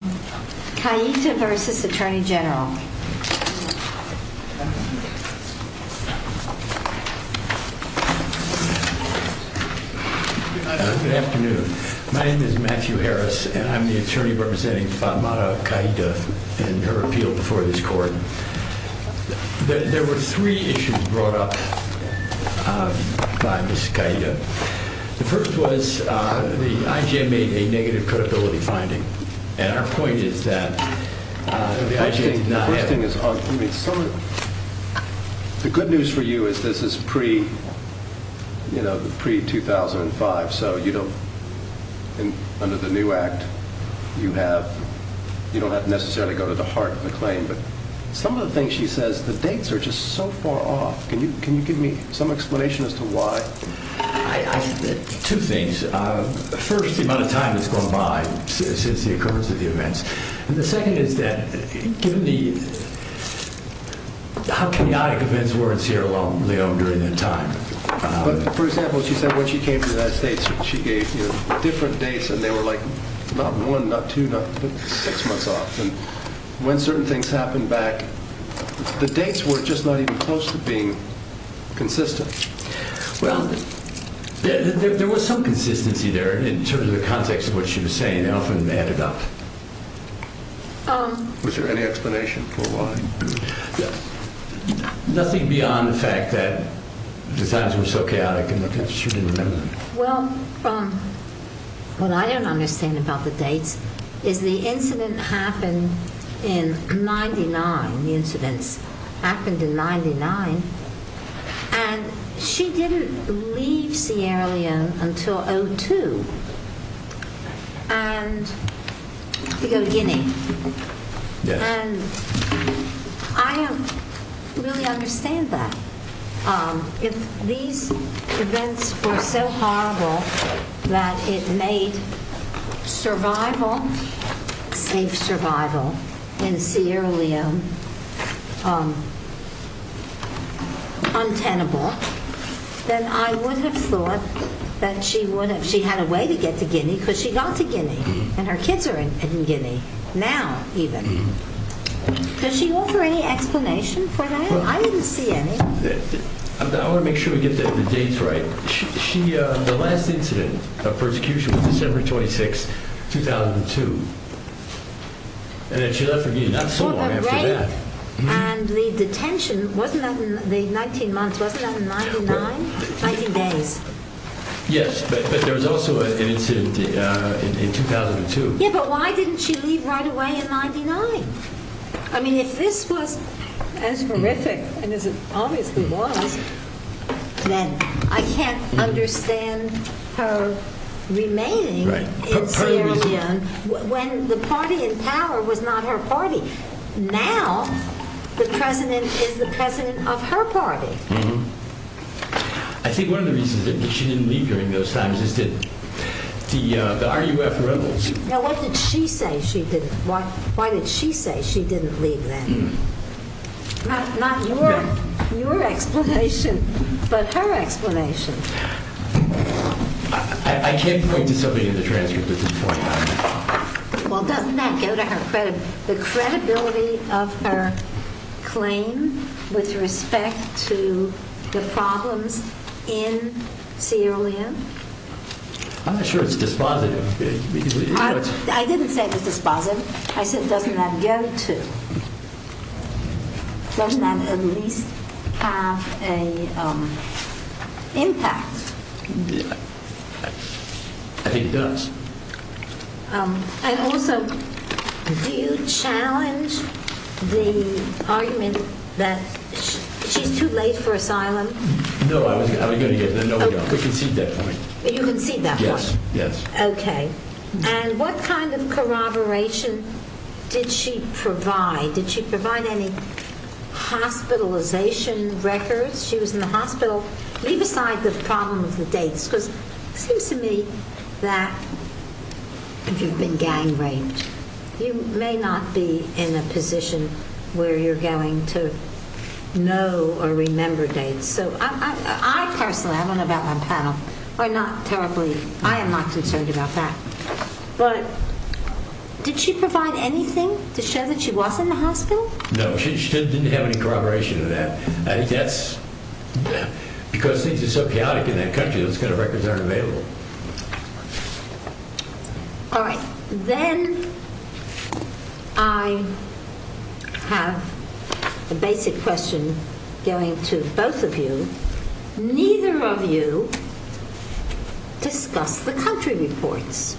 Good afternoon. My name is Matthew Harris and I'm the attorney representing Fatmata Qaeda in her appeal before this court. There were three issues brought up by Ms. Qaeda. The first was the I.G.A. made a negative credibility finding. And our point is that the I.G.A. did not have it. The good news for you is this is pre, you know, pre-2005. So, you know, under the new act, you have, you don't have to necessarily go to the heart of the claim. But some of the things she says, the dates are just so far off. Can you give me some explanation as to why? Two things. First, the amount of time that's gone by since the occurrence of the events. And the second is that given the how chaotic events were in Sierra Leone during that time. For example, she said when she came to the United States, she gave different dates and they were like not one, not two, not six months off. And happened back, the dates were just not even close to being consistent. Well, there was some consistency there in terms of the context of what she was saying. I don't think they added up. Was there any explanation for why? Nothing beyond the fact that the times were so chaotic and that she didn't remember them. Well, what I don't understand about the dates is the incident happened in 99. The incidents happened in 99. And she didn't leave Sierra Leone until 02. And we go to Guinea. And I don't really understand that. If these events were so horrible that it made survival, safe survival, in Sierra Leone untenable, then I would have thought that she had a way to get to Guinea because she got to Guinea. And her kids are in Guinea now even. Does she offer any explanation for that? I didn't see any. I want to make sure we get the dates right. The last incident of persecution was December 26, 2002. And then she left for Guinea not so long after that. And the detention, wasn't that in the 19 months, wasn't that in 99? 19 days. Yes, but there was also an incident in 2002. Yeah, but why didn't she leave right away in 99? I mean, if this was as horrific as it obviously was, then I can't understand her remaining in Sierra Leone when the party in power was not her party. Now the president is the president of her party. I think one of the reasons that she didn't leave during those times is that the RUF rebels. Now what did she say she didn't, why did she say she didn't leave then? Not your explanation, but her explanation. I can't point to something in the transcript at this point. Well doesn't that go to her credit, the credibility of her claim with respect to the problems in Sierra Leone? I'm not sure it's dispositive. I didn't say it was dispositive, I said doesn't that go to, doesn't that at least have an impact? I think it does. And also, do you see that point? Yes. And what kind of corroboration did she provide? Did she provide any hospitalization records? She was in the hospital. Leave aside the problem of the dates, because it seems to me that if you've been gang raped, you may not be in a position where you're going to know or remember dates. So I personally, I don't know about my panel, I'm not terribly, I am not concerned about that. But did she provide anything to show that she was in the hospital? No, she didn't have any corroboration of that. I think that's because things are so chaotic in that country, those kind of records aren't available. All right, then I have a basic question going to both of you. Neither of you discussed the country reports.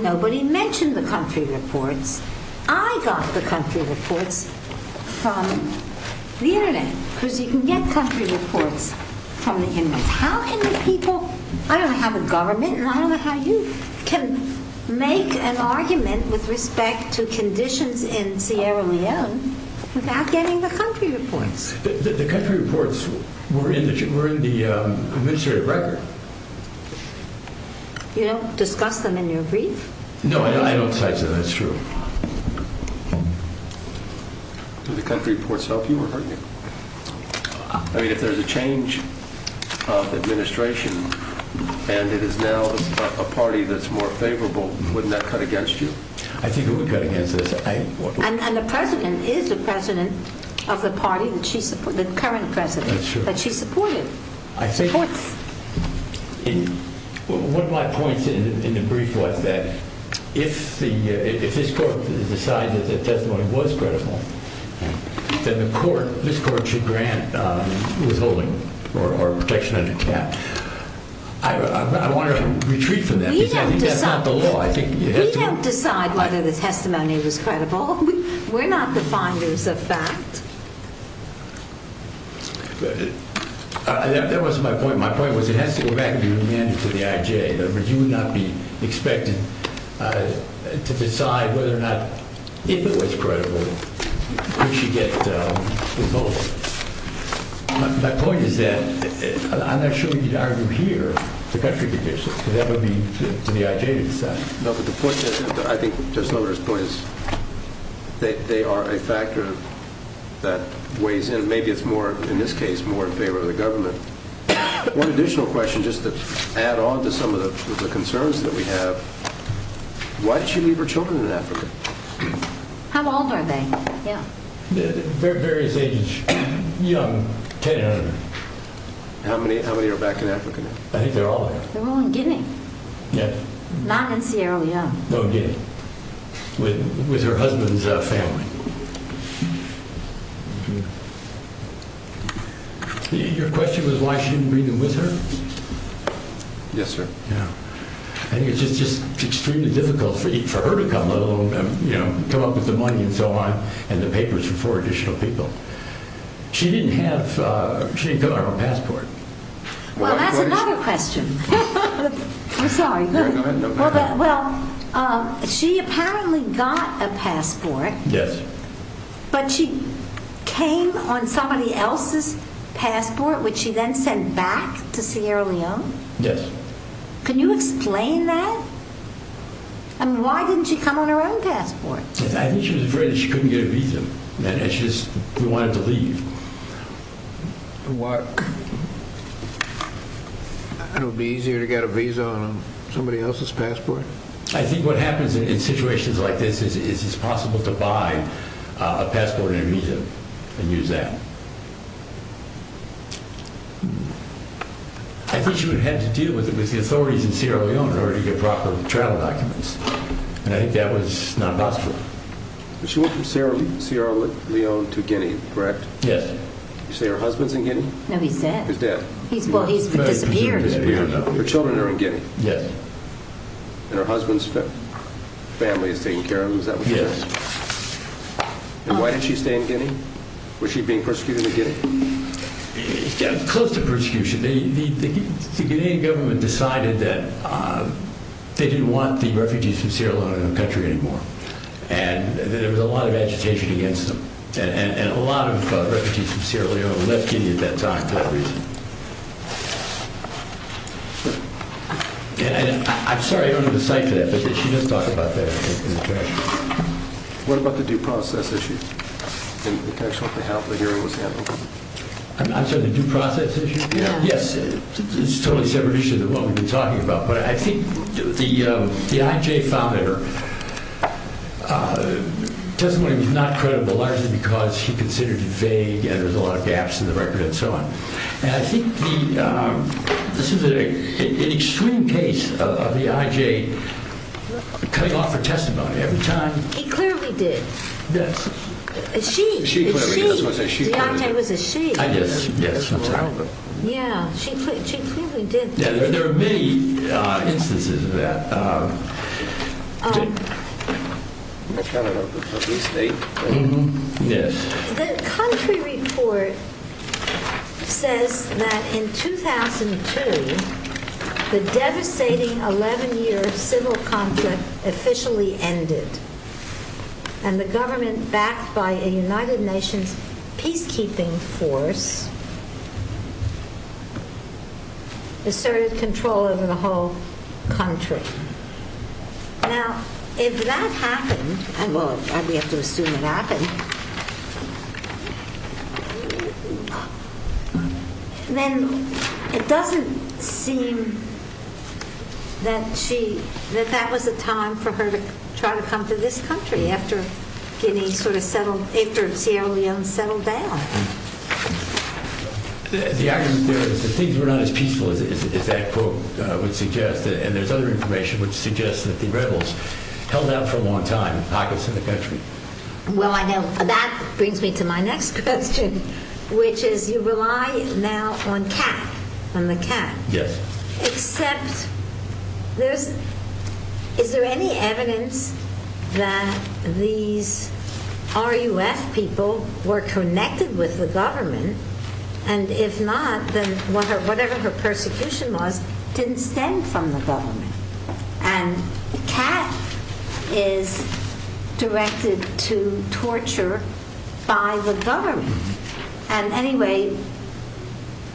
Nobody mentioned the country reports. I got the country reports from the internet, because you can get country reports from the internet. How can people, I don't have a government and I don't know how you can make an argument with respect to conditions in Sierra Leone without getting the country reports. The country reports were in the administrative record. You don't discuss them in your brief? No, I don't cite them, that's true. Do the country reports. I mean, if there's a change of administration and it is now a party that's more favorable, wouldn't that cut against you? I think it would cut against us. And the president is the president of the party, the current president, that she supported. One of my points in the brief was that if this court decides that the testimony was credible, then the court, this court should grant withholding or protection under cap. I want to retreat from that because I think that's not the law. We don't decide whether the testimony was credible. We're not the finders of fact. That wasn't my point. My point was it has to go back to the IJ. You would not be expected to decide whether or not, if it was credible, we should get withholding. My point is that, I'm not sure we could argue here, the country conditions. That would be for the IJ to decide. No, but the point is, I think Justice Lillard's point is, they are a factor that weighs in. Maybe it's more, in this case, more in favor of the government. One additional question, just to add on to some of the concerns that we have. Why did she leave her children in Africa? How old are they? They're various ages. Young, 10 and under. How many are back in Africa now? I think they're all there. They're all in Guinea. Yes. Not in Sierra Leone. No, in Guinea. With her husband's family. Your question was why she didn't bring them with her? Yes, sir. I think it's just extremely difficult for her to come, let alone come up with the money and so on, and the papers for four additional people. She didn't have, she didn't come with her passport. Well, that's another question. I'm sorry. Go ahead. Well, she apparently got a passport. Yes. But she came on somebody else's passport, which she then sent back to Sierra Leone? Yes. Can you explain that? I mean, why didn't she come on her own passport? I think she was afraid that she couldn't get a visa. She just wanted to leave. Why? It'll be easier to get a visa on somebody else's passport? I think what happens in situations like this is it's possible to buy a passport and a visa and use that. I think she would have had to deal with the authorities in Sierra Leone in order to get proper travel documents, and I think that was not possible. She went from Sierra Leone to Guinea, correct? Yes. You say her husband's in Guinea? No, he's dead. He's dead. Well, he's disappeared. Her children are in Guinea? Yes. And her husband's family is taking care of them? Is that what you're saying? Yes. And why did she stay in Guinea? Was she being persecuted in Guinea? Yeah, close to persecution. The Guinean government decided that they didn't want the refugees from Sierra Leone in the country anymore, and there was a lot of agitation against them, and a lot of refugees from Sierra Leone left Guinea at that time for that reason. And I'm sorry, I don't have a cite for that, but she does talk about that in the trash. What about the due process issue? I'm sorry, the due process issue? Yes, it's a totally separate issue than what we've been talking about, but I think the IJ found that her testimony was not credible, largely because she considered it vague, and there was a lot of gaps in the record, and so on. And I think this is an extreme case of the IJ cutting off her testimony every time. He clearly did. Yes. She clearly did. The IJ was a she. Yes, I'm sorry. Yeah, she clearly did. There are many instances of that. The country report says that in 2002, the devastating 11-year civil conflict officially ended, and the government, backed by a United Nations peacekeeping force, asserted control over the whole country. Now, if that happened, well, we have to assume it happened, then it doesn't seem that that was a time for her to try to come to this country, after Sierra Leone settled down. The argument there is that things were not as peaceful as that quote would suggest, and there's other information which suggests that the rebels held out for a long time in pockets of the country. Well, I know. That brings me to my next question, which is, you rely now on Kat, on the Kat. Yes. Except, is there any evidence that these RUF people were connected with the government, and if not, then whatever her persecution was, didn't stem from the government. And Kat is directed to torture by the government. And anyway,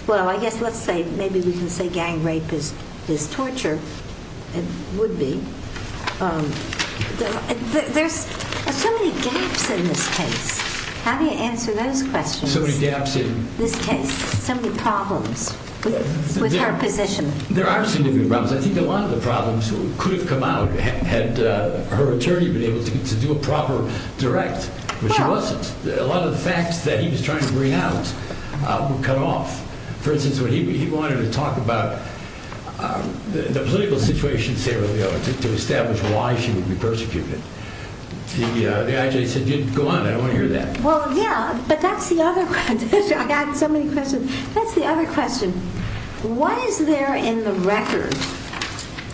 well, I guess let's say, maybe we can say gang rape is torture. It would be. There's so many gaps in this case. How do you answer those questions? There's so many gaps in this case, so many problems with her position. There are significant problems. I think a lot of the problems could have come out had her attorney been able to do a proper direct, but she wasn't. A lot of the facts that he was trying to bring out were cut off. For instance, when he wanted to talk about the political situation in Sierra Leone, to establish why she would be persecuted, the IJ said, go on, I don't want to hear that. Well, yeah, but that's the other question. I got so many questions. That's the other question. Why is there in the record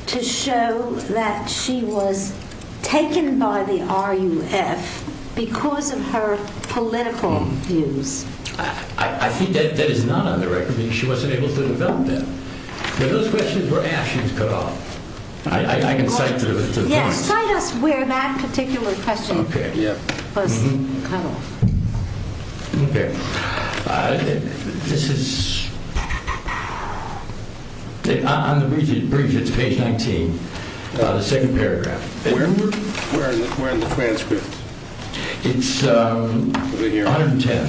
to show that she was taken by the RUF because of her political views? I think that is not on the record, because she wasn't able to develop that. Those questions were asked, she was cut off. I can cite to the point. Cite us where that particular question was cut off. Okay. This is, on the brief, it's page 19, the second paragraph. Where in the transcript? It's 110.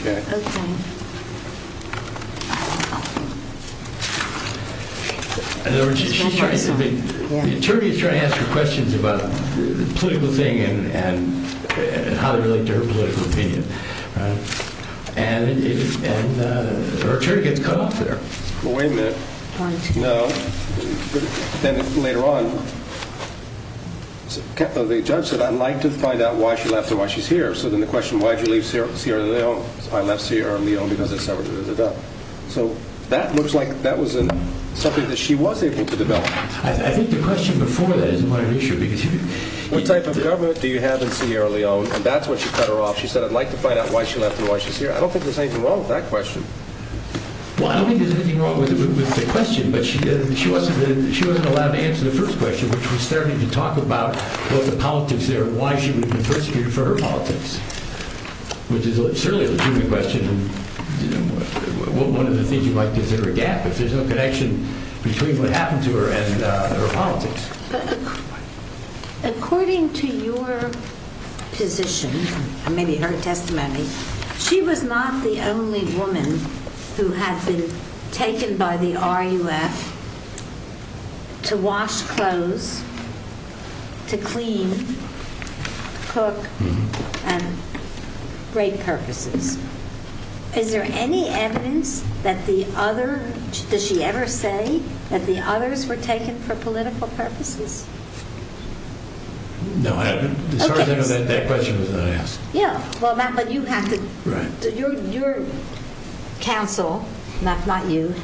Okay. In other words, the attorney is trying to ask her questions about the political thing and how they relate to her political opinion. And her attorney gets cut off there. Wait a minute. No. Then later on, the judge said, I'd like to find out why she left and why she's here. So then the question, why did you leave Sierra Leone? I left Sierra Leone because of severity of the death. So that looks like that was something that she was able to develop. I think the question before that is quite an issue. What type of government do you have in Sierra Leone? And that's when she cut her off. She said, I'd like to find out why she left and why she's here. I don't think there's anything wrong with that question. Well, I don't think there's anything wrong with the question. But she wasn't allowed to answer the first question, which was starting to talk about both the politics there and why she would have been persecuted for her politics, which is certainly a legitimate question. One of the things you might consider a gap if there's no connection between what happened to her and her politics. According to your position and maybe her testimony, she was not the only woman who had been taken by the RUF to wash clothes, to clean, cook, and for great purposes. Is there any evidence that the other – does she ever say that the others were taken for political purposes? No, as far as I know, that question was not asked. Yeah, well, Matt, but you have to – your counsel, Matt, not you,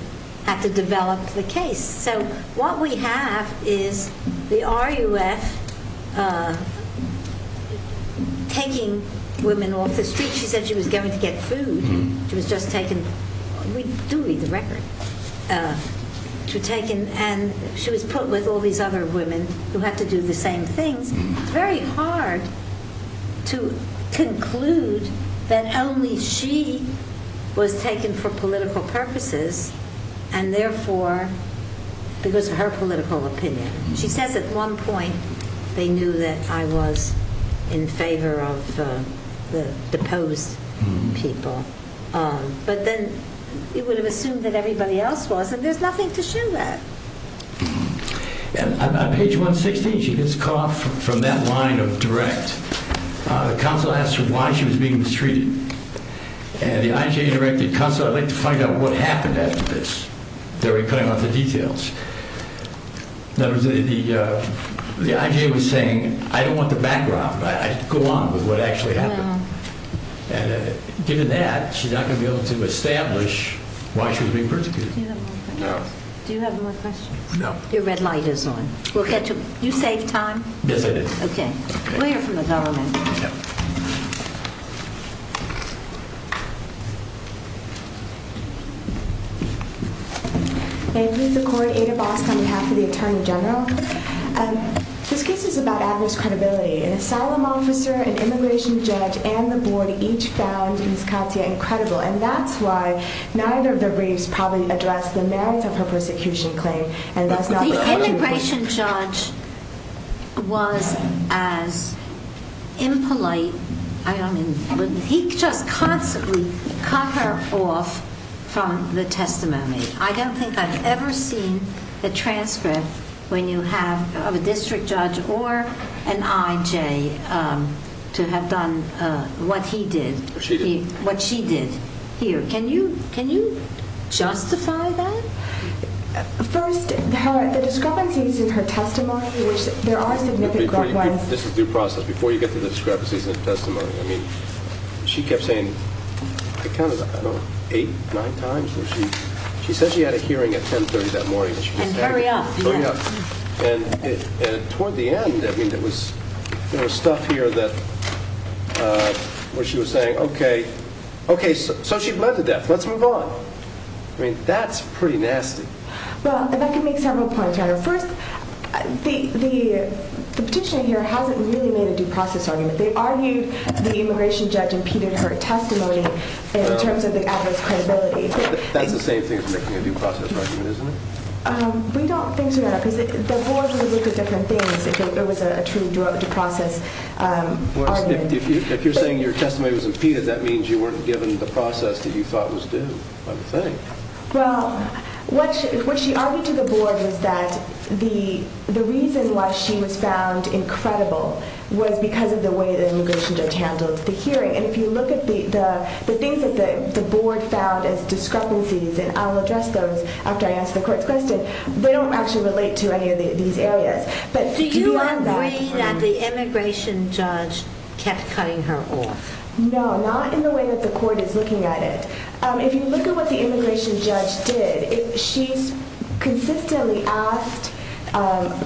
had to develop the case. So what we have is the RUF taking women off the street. She said she was going to get food. She was just taken – we do read the record. She was taken and she was put with all these other women who had to do the same things. It's very hard to conclude that only she was taken for political purposes and therefore because of her political opinion. She says at one point they knew that I was in favor of the deposed people, but then it would have assumed that everybody else was, and there's nothing to show that. On page 116, she gets caught from that line of direct. The counsel asks her why she was being mistreated, and the IJA directed, counsel, I'd like to find out what happened after this. They were cutting off the details. In other words, the IJA was saying, I don't want the background. I'd go on with what actually happened. And given that, she's not going to be able to establish why she was being persecuted. Do you have more questions? No. Your red light is on. Okay. You saved time. Yes, I did. Okay. We'll hear from the government. Thank you, the court. Ada Bosk on behalf of the Attorney General. This case is about adverse credibility. An asylum officer, an immigration judge, and the board each found Ms. Katia incredible, and that's why neither of the briefs probably addressed the merits of her persecution claim. The immigration judge was as impolite. I mean, he just constantly cut her off from the testimony. I don't think I've ever seen the transcript when you have a district judge or an IJA to have done what he did, what she did. Here, can you justify that? First, the discrepancies in her testimony, which there are significant grunt-wise. This is due process. Before you get to the discrepancies in the testimony, I mean, she kept saying, I counted, I don't know, eight, nine times where she said she had a hearing at 10.30 that morning. And hurry up. Hurry up. And toward the end, I mean, there was stuff here where she was saying, OK. OK, so she bled to death. Let's move on. I mean, that's pretty nasty. Well, if I could make several points. First, the petitioner here hasn't really made a due process argument. They argued the immigration judge impeded her testimony in terms of the adverse credibility. That's the same thing as making a due process argument, isn't it? We don't think so, no. Because the board would look at different things if it was a true due process argument. If you're saying your testimony was impeded, that means you weren't given the process that you thought was due, I would think. Well, what she argued to the board was that the reason why she was found incredible was because of the way the immigration judge handled the hearing. And if you look at the things that the board found as discrepancies, and I'll address those after I answer the court's question, they don't actually relate to any of these areas. Do you agree that the immigration judge kept cutting her off? No, not in the way that the court is looking at it. If you look at what the immigration judge did, she consistently asked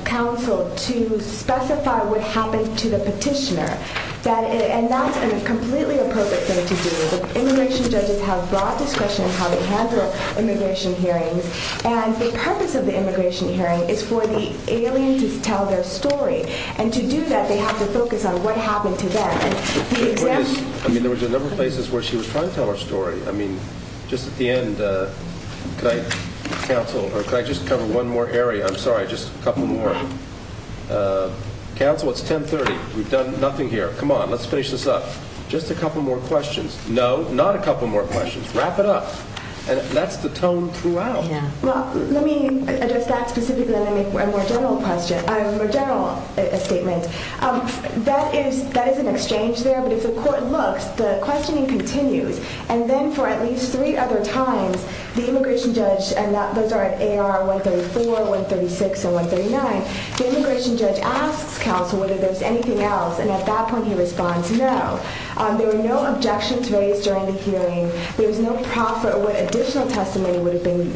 counsel to specify what happened to the petitioner. And that's a completely appropriate thing to do. Immigration judges have broad discretion in how they handle immigration hearings. And the purpose of the immigration hearing is for the alien to tell their story. And to do that, they have to focus on what happened to them. I mean, there was a number of places where she was trying to tell her story. I mean, just at the end, could I just cover one more area? I'm sorry, just a couple more. Counsel, it's 10.30. We've done nothing here. Come on, let's finish this up. Just a couple more questions. No, not a couple more questions. Wrap it up. That's the tone throughout. Well, let me address that specifically and then make a more general statement. That is an exchange there. But if the court looks, the questioning continues. And then for at least three other times, the immigration judge, and those are at AR 134, 136, and 139, the immigration judge asks counsel whether there's anything else. And at that point, he responds, no. There were no objections raised during the hearing. There was no profit or what additional testimony would have been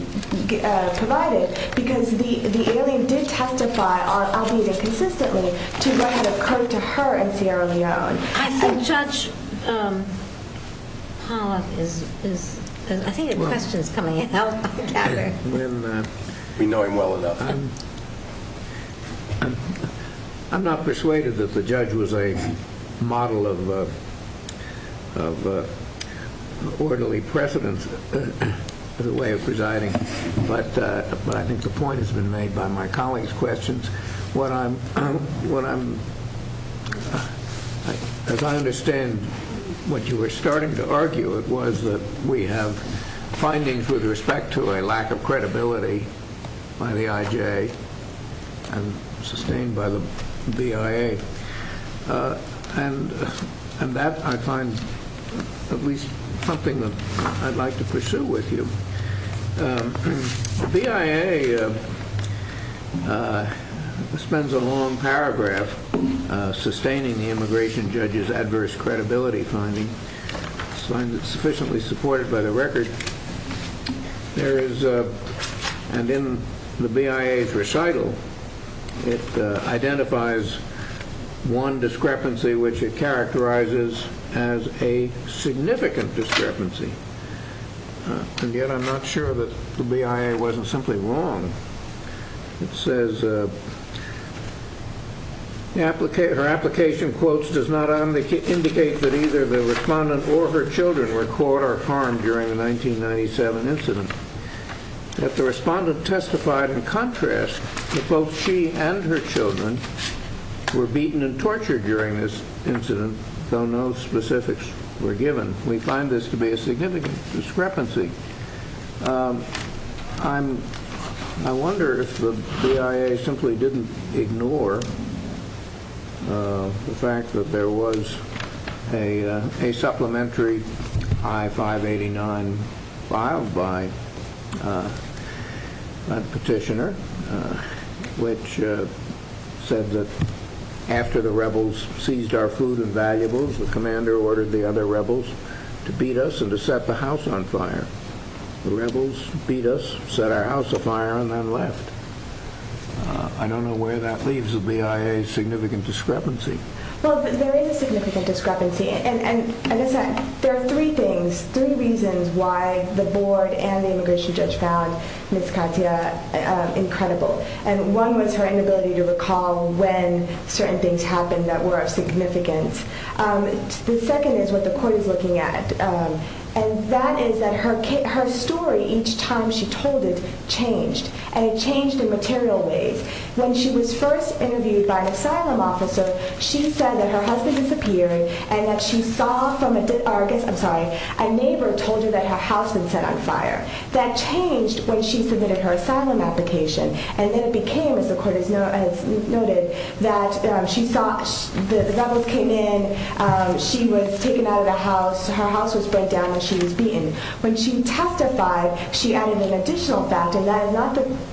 provided because the alien did testify on al-Qaeda consistently to what had occurred to her in Sierra Leone. I think Judge Pollack is... I think the question is coming in. I'll gather. We know him well enough. I'm not persuaded that the judge was a model of... orderly precedence in the way of presiding. But I think the point has been made by my colleagues' questions. What I'm... As I understand what you were starting to argue, it was that we have findings with respect to a lack of credibility by the IJ and sustained by the BIA. And that I find at least something that I'd like to pursue with you. The BIA spends a long paragraph sustaining the immigration judge's adverse credibility finding. It's sufficiently supported by the record. There is... And in the BIA's recital, it identifies one discrepancy which it characterizes as a significant discrepancy. And yet I'm not sure that the BIA wasn't simply wrong. It says... Her application quotes does not indicate that either the respondent or her children were caught or harmed during the 1997 incident. Yet the respondent testified in contrast that both she and her children were beaten and tortured during this incident, though no specifics were given. We find this to be a significant discrepancy. I'm... I wonder if the BIA simply didn't ignore the fact that there was a supplementary I-589 filed by a petitioner which said that after the rebels seized our food and valuables, the commander ordered the other rebels to beat us and to set the house on fire. The rebels beat us, set our house on fire, and then left. I don't know where that leaves the BIA's significant discrepancy. Well, there is a significant discrepancy. And as I said, there are three things, three reasons why the board and the immigration judge found Ms. Katia incredible. And one was her inability to recall when certain things happened that were of significance. The second is what the court is looking at. And that is that her story, each time she told it, changed. And it changed in material ways. When she was first interviewed by an asylum officer, she said that her husband disappeared and that she saw from a neighbor told her that her house had been set on fire. That changed when she submitted her asylum application. And then it became, as the court has noted, that the rebels came in, she was taken out of the house, her house was burned down, and she was beaten. When she testified, she added an additional fact, and that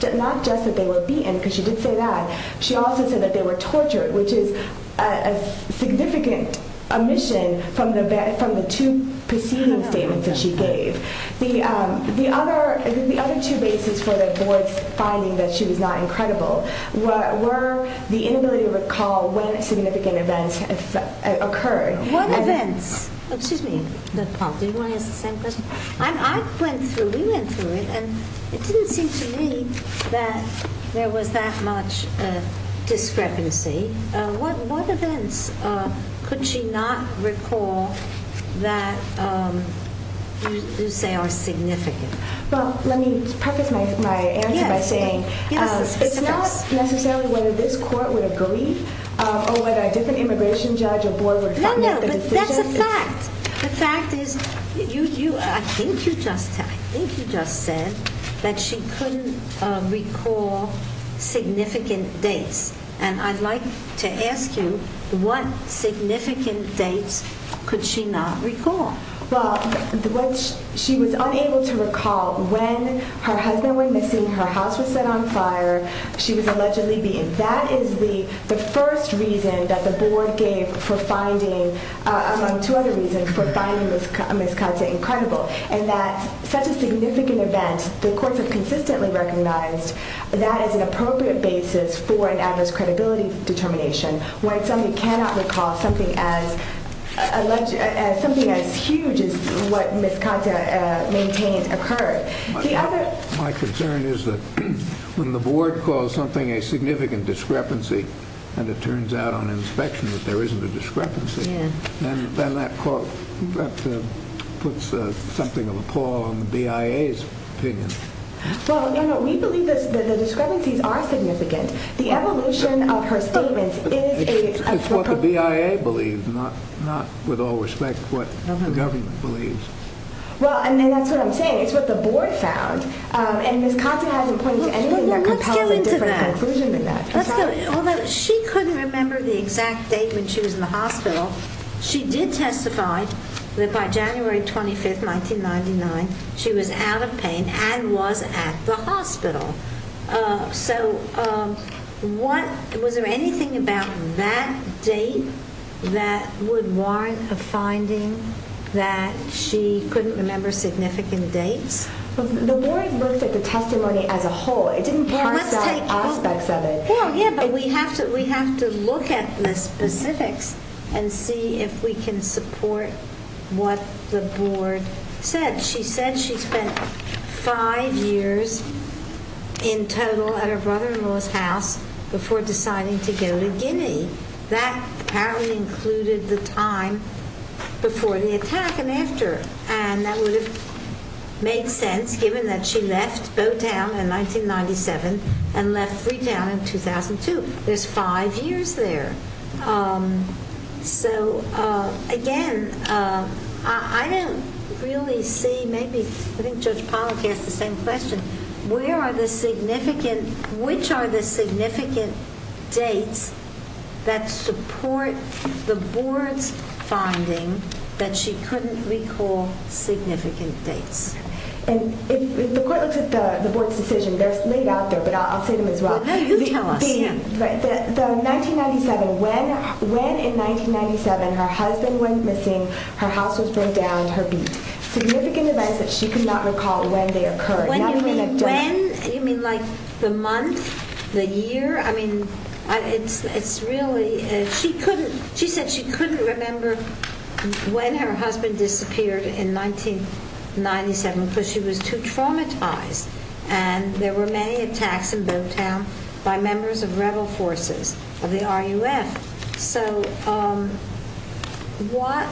is not just that they were beaten, because she did say that, she also said that they were tortured, which is a significant omission from the two preceding statements that she gave. The other two bases for the board's finding that she was not incredible were the inability to recall when significant events occurred. What events? Excuse me. Do you want to ask the same question? I went through, we went through it, and it didn't seem to me that there was that much discrepancy. What events could she not recall that you say are significant? Well, let me preface my answer by saying it's not necessarily whether this court would agree, or whether a different immigration judge or board would comment on the decision. No, no, but that's a fact. The fact is, I think you just said that she couldn't recall significant dates, and I'd like to ask you, what significant dates could she not recall? Well, what she was unable to recall when her husband went missing, her house was set on fire, she was allegedly beaten. That is the first reason that the board gave for finding, among two other reasons for finding Ms. Katia incredible, and that such a significant event, the courts have consistently recognized that is an appropriate basis for an adverse credibility determination when somebody cannot recall something as huge as what Ms. Katia maintained occurred. My concern is that when the board calls something a significant discrepancy, and it turns out on inspection that there isn't a discrepancy, then that puts something of a pull on the BIA's opinion. Well, no, no, we believe that the discrepancies are significant. The evolution of her statements is a... It's what the BIA believes, not, with all respect, what the government believes. Well, and that's what I'm saying, it's what the board found, and Ms. Katia hasn't pointed to anything that compels a different conclusion than that. Although she couldn't remember the exact date when she was in the hospital, she did testify that by January 25th, 1999, she was out of pain and was at the hospital. So, was there anything about that date that would warrant a finding that she couldn't remember significant dates? The board looked at the testimony as a whole. It didn't point to aspects of it. Well, yeah, but we have to look at the specifics and see if we can support what the board said. She said she spent five years in total at her brother-in-law's house before deciding to go to Guinea. That apparently included the time before the attack and after, and that would have made sense given that she left Bowtown in 1997 and left Freetown in 2002. There's five years there. So, again, I don't really see, maybe I think Judge Pollack asked the same question, where are the significant, which are the significant dates that support the board's finding that she couldn't recall significant dates? If the court looks at the board's decision, they're laid out there, but I'll say them as well. Well, then you tell us. The 1997, when in 1997 her husband went missing, her house was burned down, her beat. Significant events that she could not recall when they occurred. When you mean when? You mean like the month, the year? I mean, it's really, she said she couldn't remember when her husband disappeared in 1997 because she was too traumatized, and there were many attacks in Bowtown by members of rebel forces of the RUF. So, what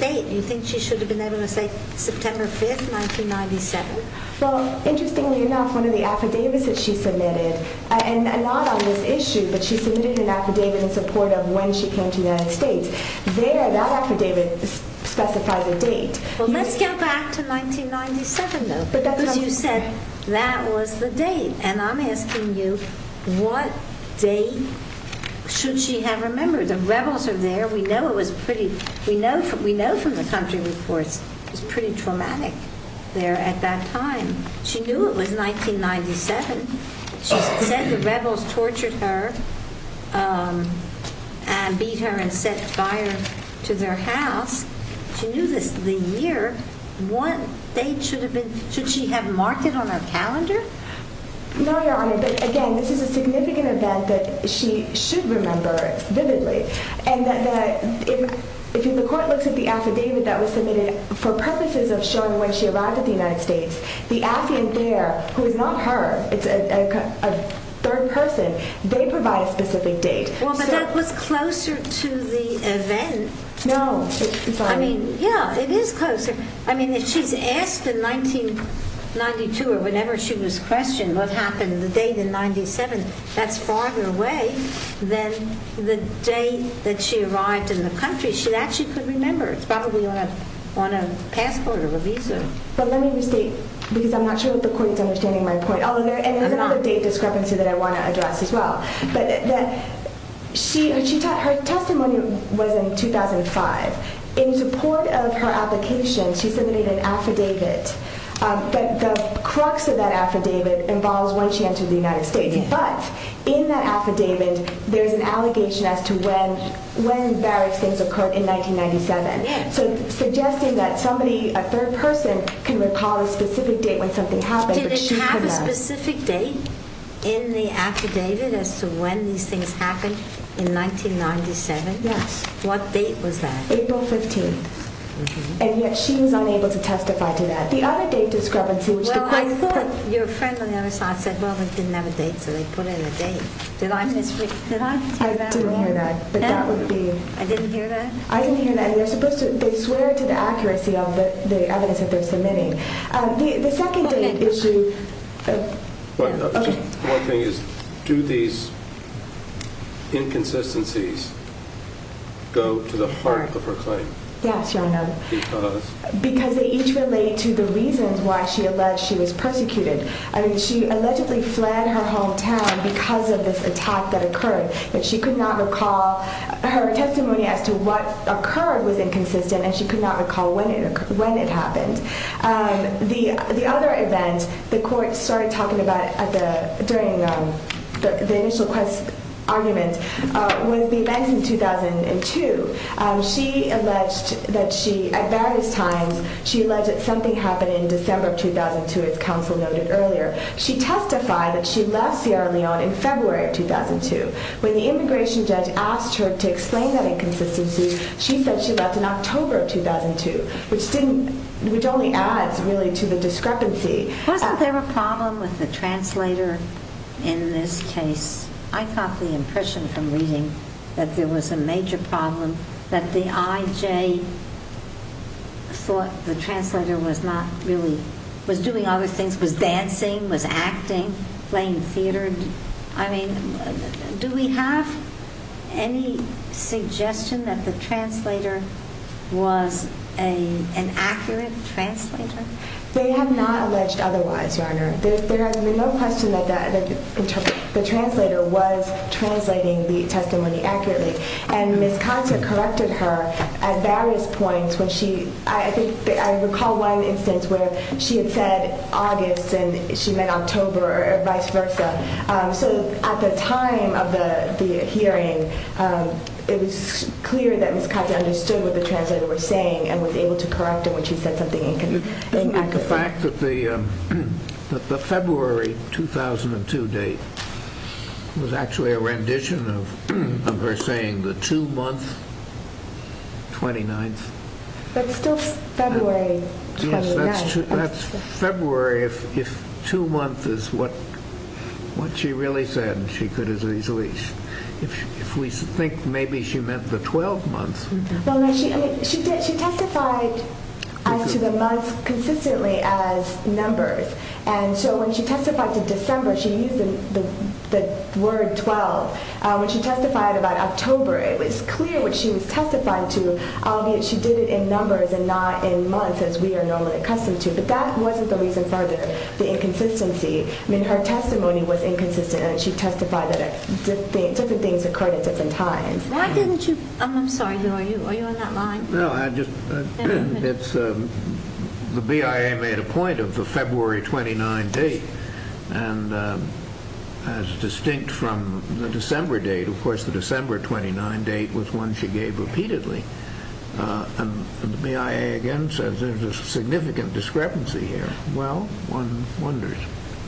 date do you think she should have been able to say? September 5, 1997? Well, interestingly enough, one of the affidavits that she submitted, and not on this issue, but she submitted an affidavit in support of when she came to the United States. There, that affidavit specifies a date. Well, let's get back to 1997, though, because you said that was the date, and I'm asking you what date should she have remembered? The rebels are there. We know from the country reports it was pretty traumatic there at that time. She knew it was 1997. She said the rebels tortured her and beat her and set fire to their house. She knew the year, what date should she have marked it on her calendar? No, Your Honor, but again, this is a significant event that she should remember vividly, and if the court looks at the affidavit that was submitted for purposes of showing when she arrived at the United States, the affiant there, who is not her, it's a third person, they provide a specific date. Well, but that was closer to the event. No. I mean, yeah, it is closer. I mean, if she's asked in 1992 or whenever she was questioned what happened the date in 1997, that's farther away than the date that she arrived in the country. She actually could remember. It's probably on a passport or a visa. But let me restate, because I'm not sure that the court is understanding my point. And there's another date discrepancy that I want to address as well. But her testimony was in 2005. In support of her application, she submitted an affidavit. But the crux of that affidavit involves when she entered the United States. But in that affidavit, there's an allegation as to when various things occurred in 1997. So suggesting that somebody, a third person, can recall a specific date when something happened. Did it have a specific date in the affidavit as to when these things happened in 1997? Yes. What date was that? April 15th. And yet she was unable to testify to that. The other date discrepancy, which the plaintiff put. Well, your friend on the other side said, well, we didn't have a date, so they put in a date. Did I misread that? I didn't hear that. But that would be. I didn't hear that? I didn't hear that. They're supposed to. They swear to the accuracy of the evidence that they're submitting. The second date issue. One thing is, do these inconsistencies go to the heart of her claim? Yes, Your Honor. Because? Because they each relate to the reasons why she alleged she was persecuted. I mean, she allegedly fled her hometown because of this attack that occurred. And she could not recall her testimony as to what occurred was inconsistent, and she could not recall when it happened. The other event the court started talking about during the initial quest argument was the event in 2002. She alleged that she, at various times, she alleged that something happened in December of 2002, as counsel noted earlier. She testified that she left Sierra Leone in February of 2002. When the immigration judge asked her to explain that inconsistency, she said she left in October of 2002, which only adds, really, to the discrepancy. Wasn't there a problem with the translator in this case? I got the impression from reading that there was a major problem, that the IJ thought the translator was not really, was doing other things, was dancing, was acting, playing theater. I mean, do we have any suggestion that the translator was an accurate translator? They have not alleged otherwise, Your Honor. There has been no question that the translator was translating the testimony accurately. And Ms. Cossack corrected her at various points when she, I recall one instance where she had said August and she meant October or vice versa. So at the time of the hearing, it was clear that Ms. Cossack understood what the translator was saying and was able to correct her when she said something inaccurate. The fact that the February 2002 date was actually a rendition of her saying the two months, 29th. But still February 29th. Yes, that's February if two months is what she really said and she could have easily, if we think maybe she meant the 12 months. She testified to the months consistently as numbers. And so when she testified to December, she used the word 12. When she testified about October, it was clear what she was testifying to, albeit she did it in numbers and not in months as we are normally accustomed to. But that wasn't the reason for the inconsistency. I mean, her testimony was inconsistent and she testified that certain things occurred at different times. Why didn't you, I'm sorry, are you on that line? No, I just, it's, the BIA made a point of the February 29th date as distinct from the December date. Of course, the December 29th date was one she gave repeatedly. And the BIA again says there's a significant discrepancy here. Well, one wonders.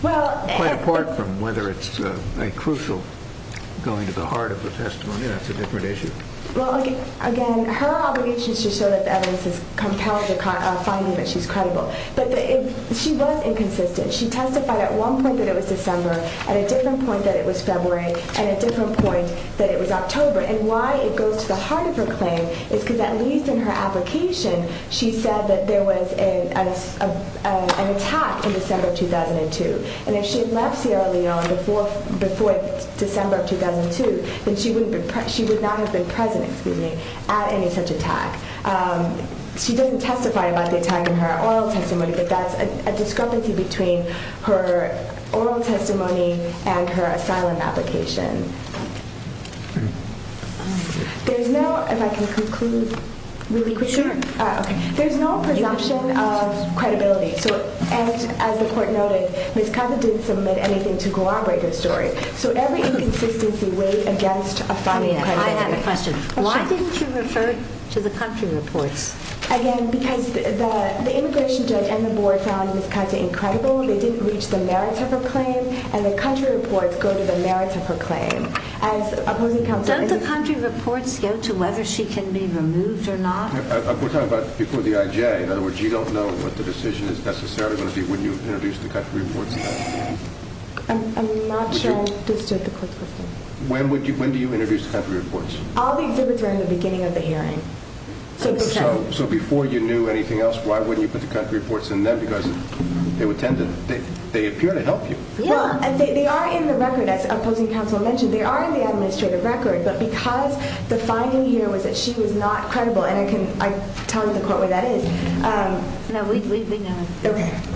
Quite apart from whether it's a crucial going to the heart of the testimony, that's a different issue. Again, her obligation is to show that the evidence is compelling to find that she's credible. But she was inconsistent. She testified at one point that it was December, at a different point that it was February, and a different point that it was October. And why it goes to the heart of her claim is because at least in her application, she said that there was an attack in December of 2002. And if she had left Sierra Leone before December of 2002, then she would not have been present at any such attack. She doesn't testify about the attack in her oral testimony, but that's a discrepancy between her oral testimony and her asylum application. There's no, if I can conclude really quickly. Sure. There's no presumption of credibility. So as the court noted, Ms. Kava didn't submit anything to corroborate her story. So every inconsistency weighed against a final credibility. I have a question. Why didn't you refer to the country reports? Again, because the immigration judge and the board found Ms. Kava incredible. They didn't reach the merits of her claim, and the country reports go to the merits of her claim. Don't the country reports go to whether she can be removed or not? We're talking about people with the IJ. In other words, you don't know what the decision is necessarily going to be when you introduce the country reports. I'm not sure I understood the question. When do you introduce the country reports? All the exhibits are in the beginning of the hearing. So before you knew anything else, why wouldn't you put the country reports in them? Because they appear to help you. They are in the record, as opposing counsel mentioned. They are in the administrative record, but because the finding here was that she was not credible, and I can tell the court what that is,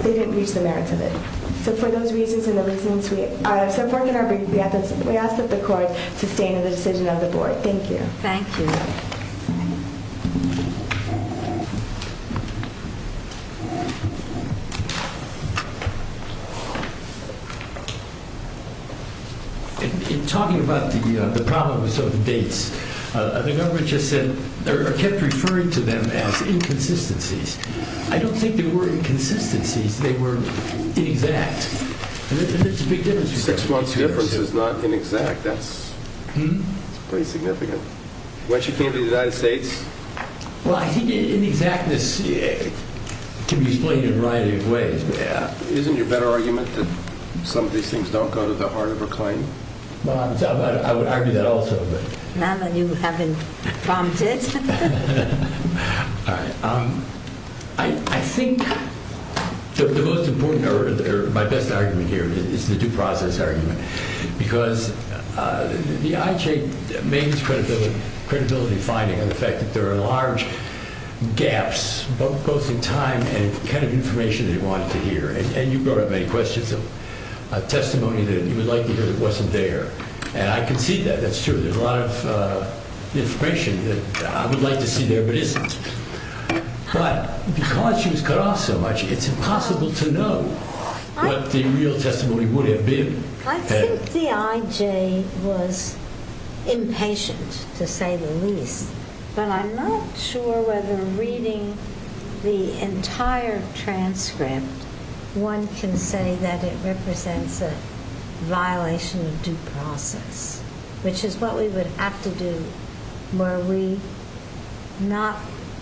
they didn't reach the merits of it. So for those reasons and the reasons so far in our brief, we ask that the court sustain the decision of the board. Thank you. Thank you. In talking about the problems of the dates, the government just said or kept referring to them as inconsistencies. I don't think they were inconsistencies. They were inexact. And that's a big difference. Six months difference is not inexact. That's pretty significant. Why she can't be in the United States? Well, I think inexactness can be explained in a variety of ways. Isn't it your better argument that some of these things don't go to the heart of her claim? I would argue that also. Now that you have been prompted. I think the most important or my best argument here is the due process argument because the IJ mains credibility finding on the fact that there are large gaps both in time and kind of information they wanted to hear. And you brought up many questions of testimony that you would like to hear that wasn't there. And I can see that. That's true. There's a lot of information that I would like to see there but isn't. But because she was cut off so much, it's impossible to know what the real testimony would have been I think the IJ was impatient to say the least. But I'm not sure whether reading the entire transcript one can say that it represents a violation of due process, which is what we would have to do were we not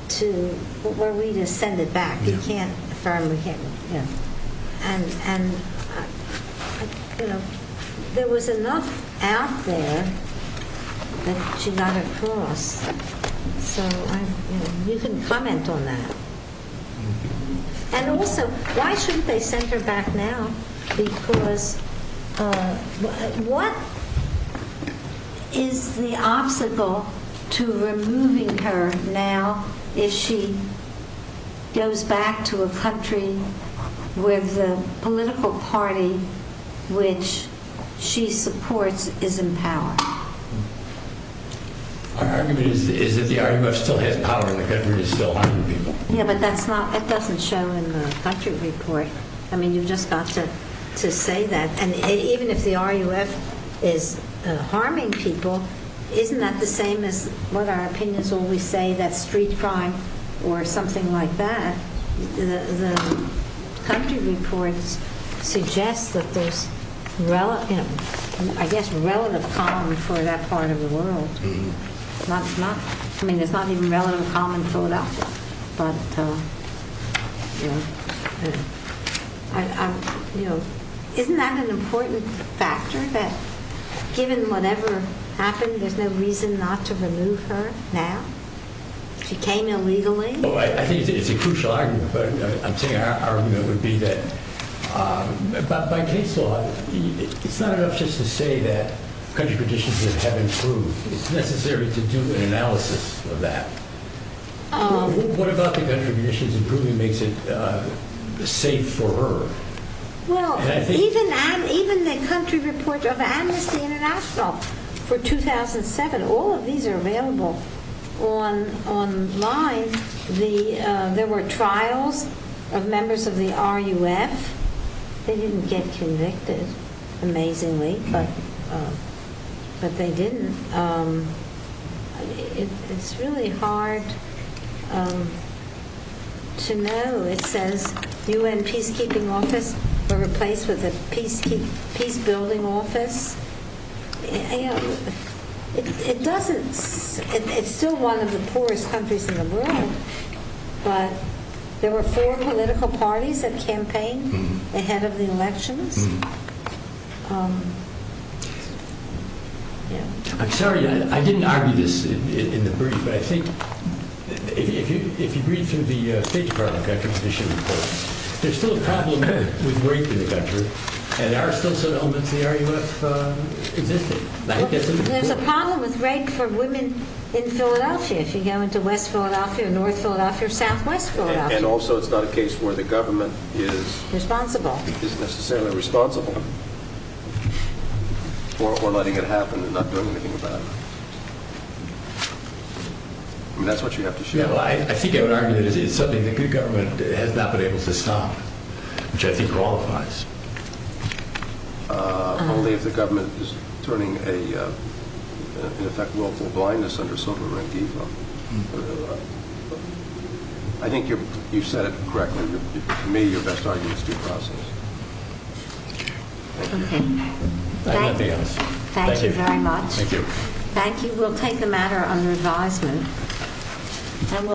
to, were we to send it back. We can't affirm, we can't. And there was enough out there that she got across. So you can comment on that. And also, why shouldn't they send her back now? Because what is the obstacle to removing her now if she goes back to a country where the political party which she supports is in power? Our argument is that the RUF still has power in the country and is still harming people. Yeah, but that doesn't show in the country report. I mean, you've just got to say that. And even if the RUF is harming people, isn't that the same as what our opinions always say that street crime or something like that, the country reports suggest that there's, I guess, relative calm for that part of the world. I mean, there's not even relative calm in Philadelphia. Isn't that an important factor, that given whatever happened, there's no reason not to remove her now? She came illegally. I think it's a crucial argument, but I'm saying our argument would be that, by case law, it's not enough just to say that country conditions have improved. It's necessary to do an analysis of that. What about the country conditions improving makes it safe for her? Well, even the country report of Amnesty International for 2007, all of these are available online. There were trials of members of the RUF. They didn't get convicted, amazingly, but they didn't. It's really hard to know. It says UN Peacekeeping Office were replaced with a Peacebuilding Office. It doesn't. It's still one of the poorest countries in the world, but there were four political parties that campaigned ahead of the elections. I'm sorry, I didn't argue this in the brief, but I think if you read through the State Department country condition report, there's still a problem with rape in the country, and there are still some elements of the RUF existing. There's a problem with rape for women in Philadelphia. If you go into West Philadelphia or North Philadelphia or Southwest Philadelphia. And also it's not a case where the government is necessarily responsible for letting it happen and not doing anything about it. I mean, that's what you have to share. I think I would argue that it is something the good government has not been able to stop, which I think qualifies. Only if the government is turning a, in effect, willful blindness under sobering evil. I think you've said it correctly. To me, your best argument is due process. Okay. Thank you very much. Thank you. We'll take the matter under advisement.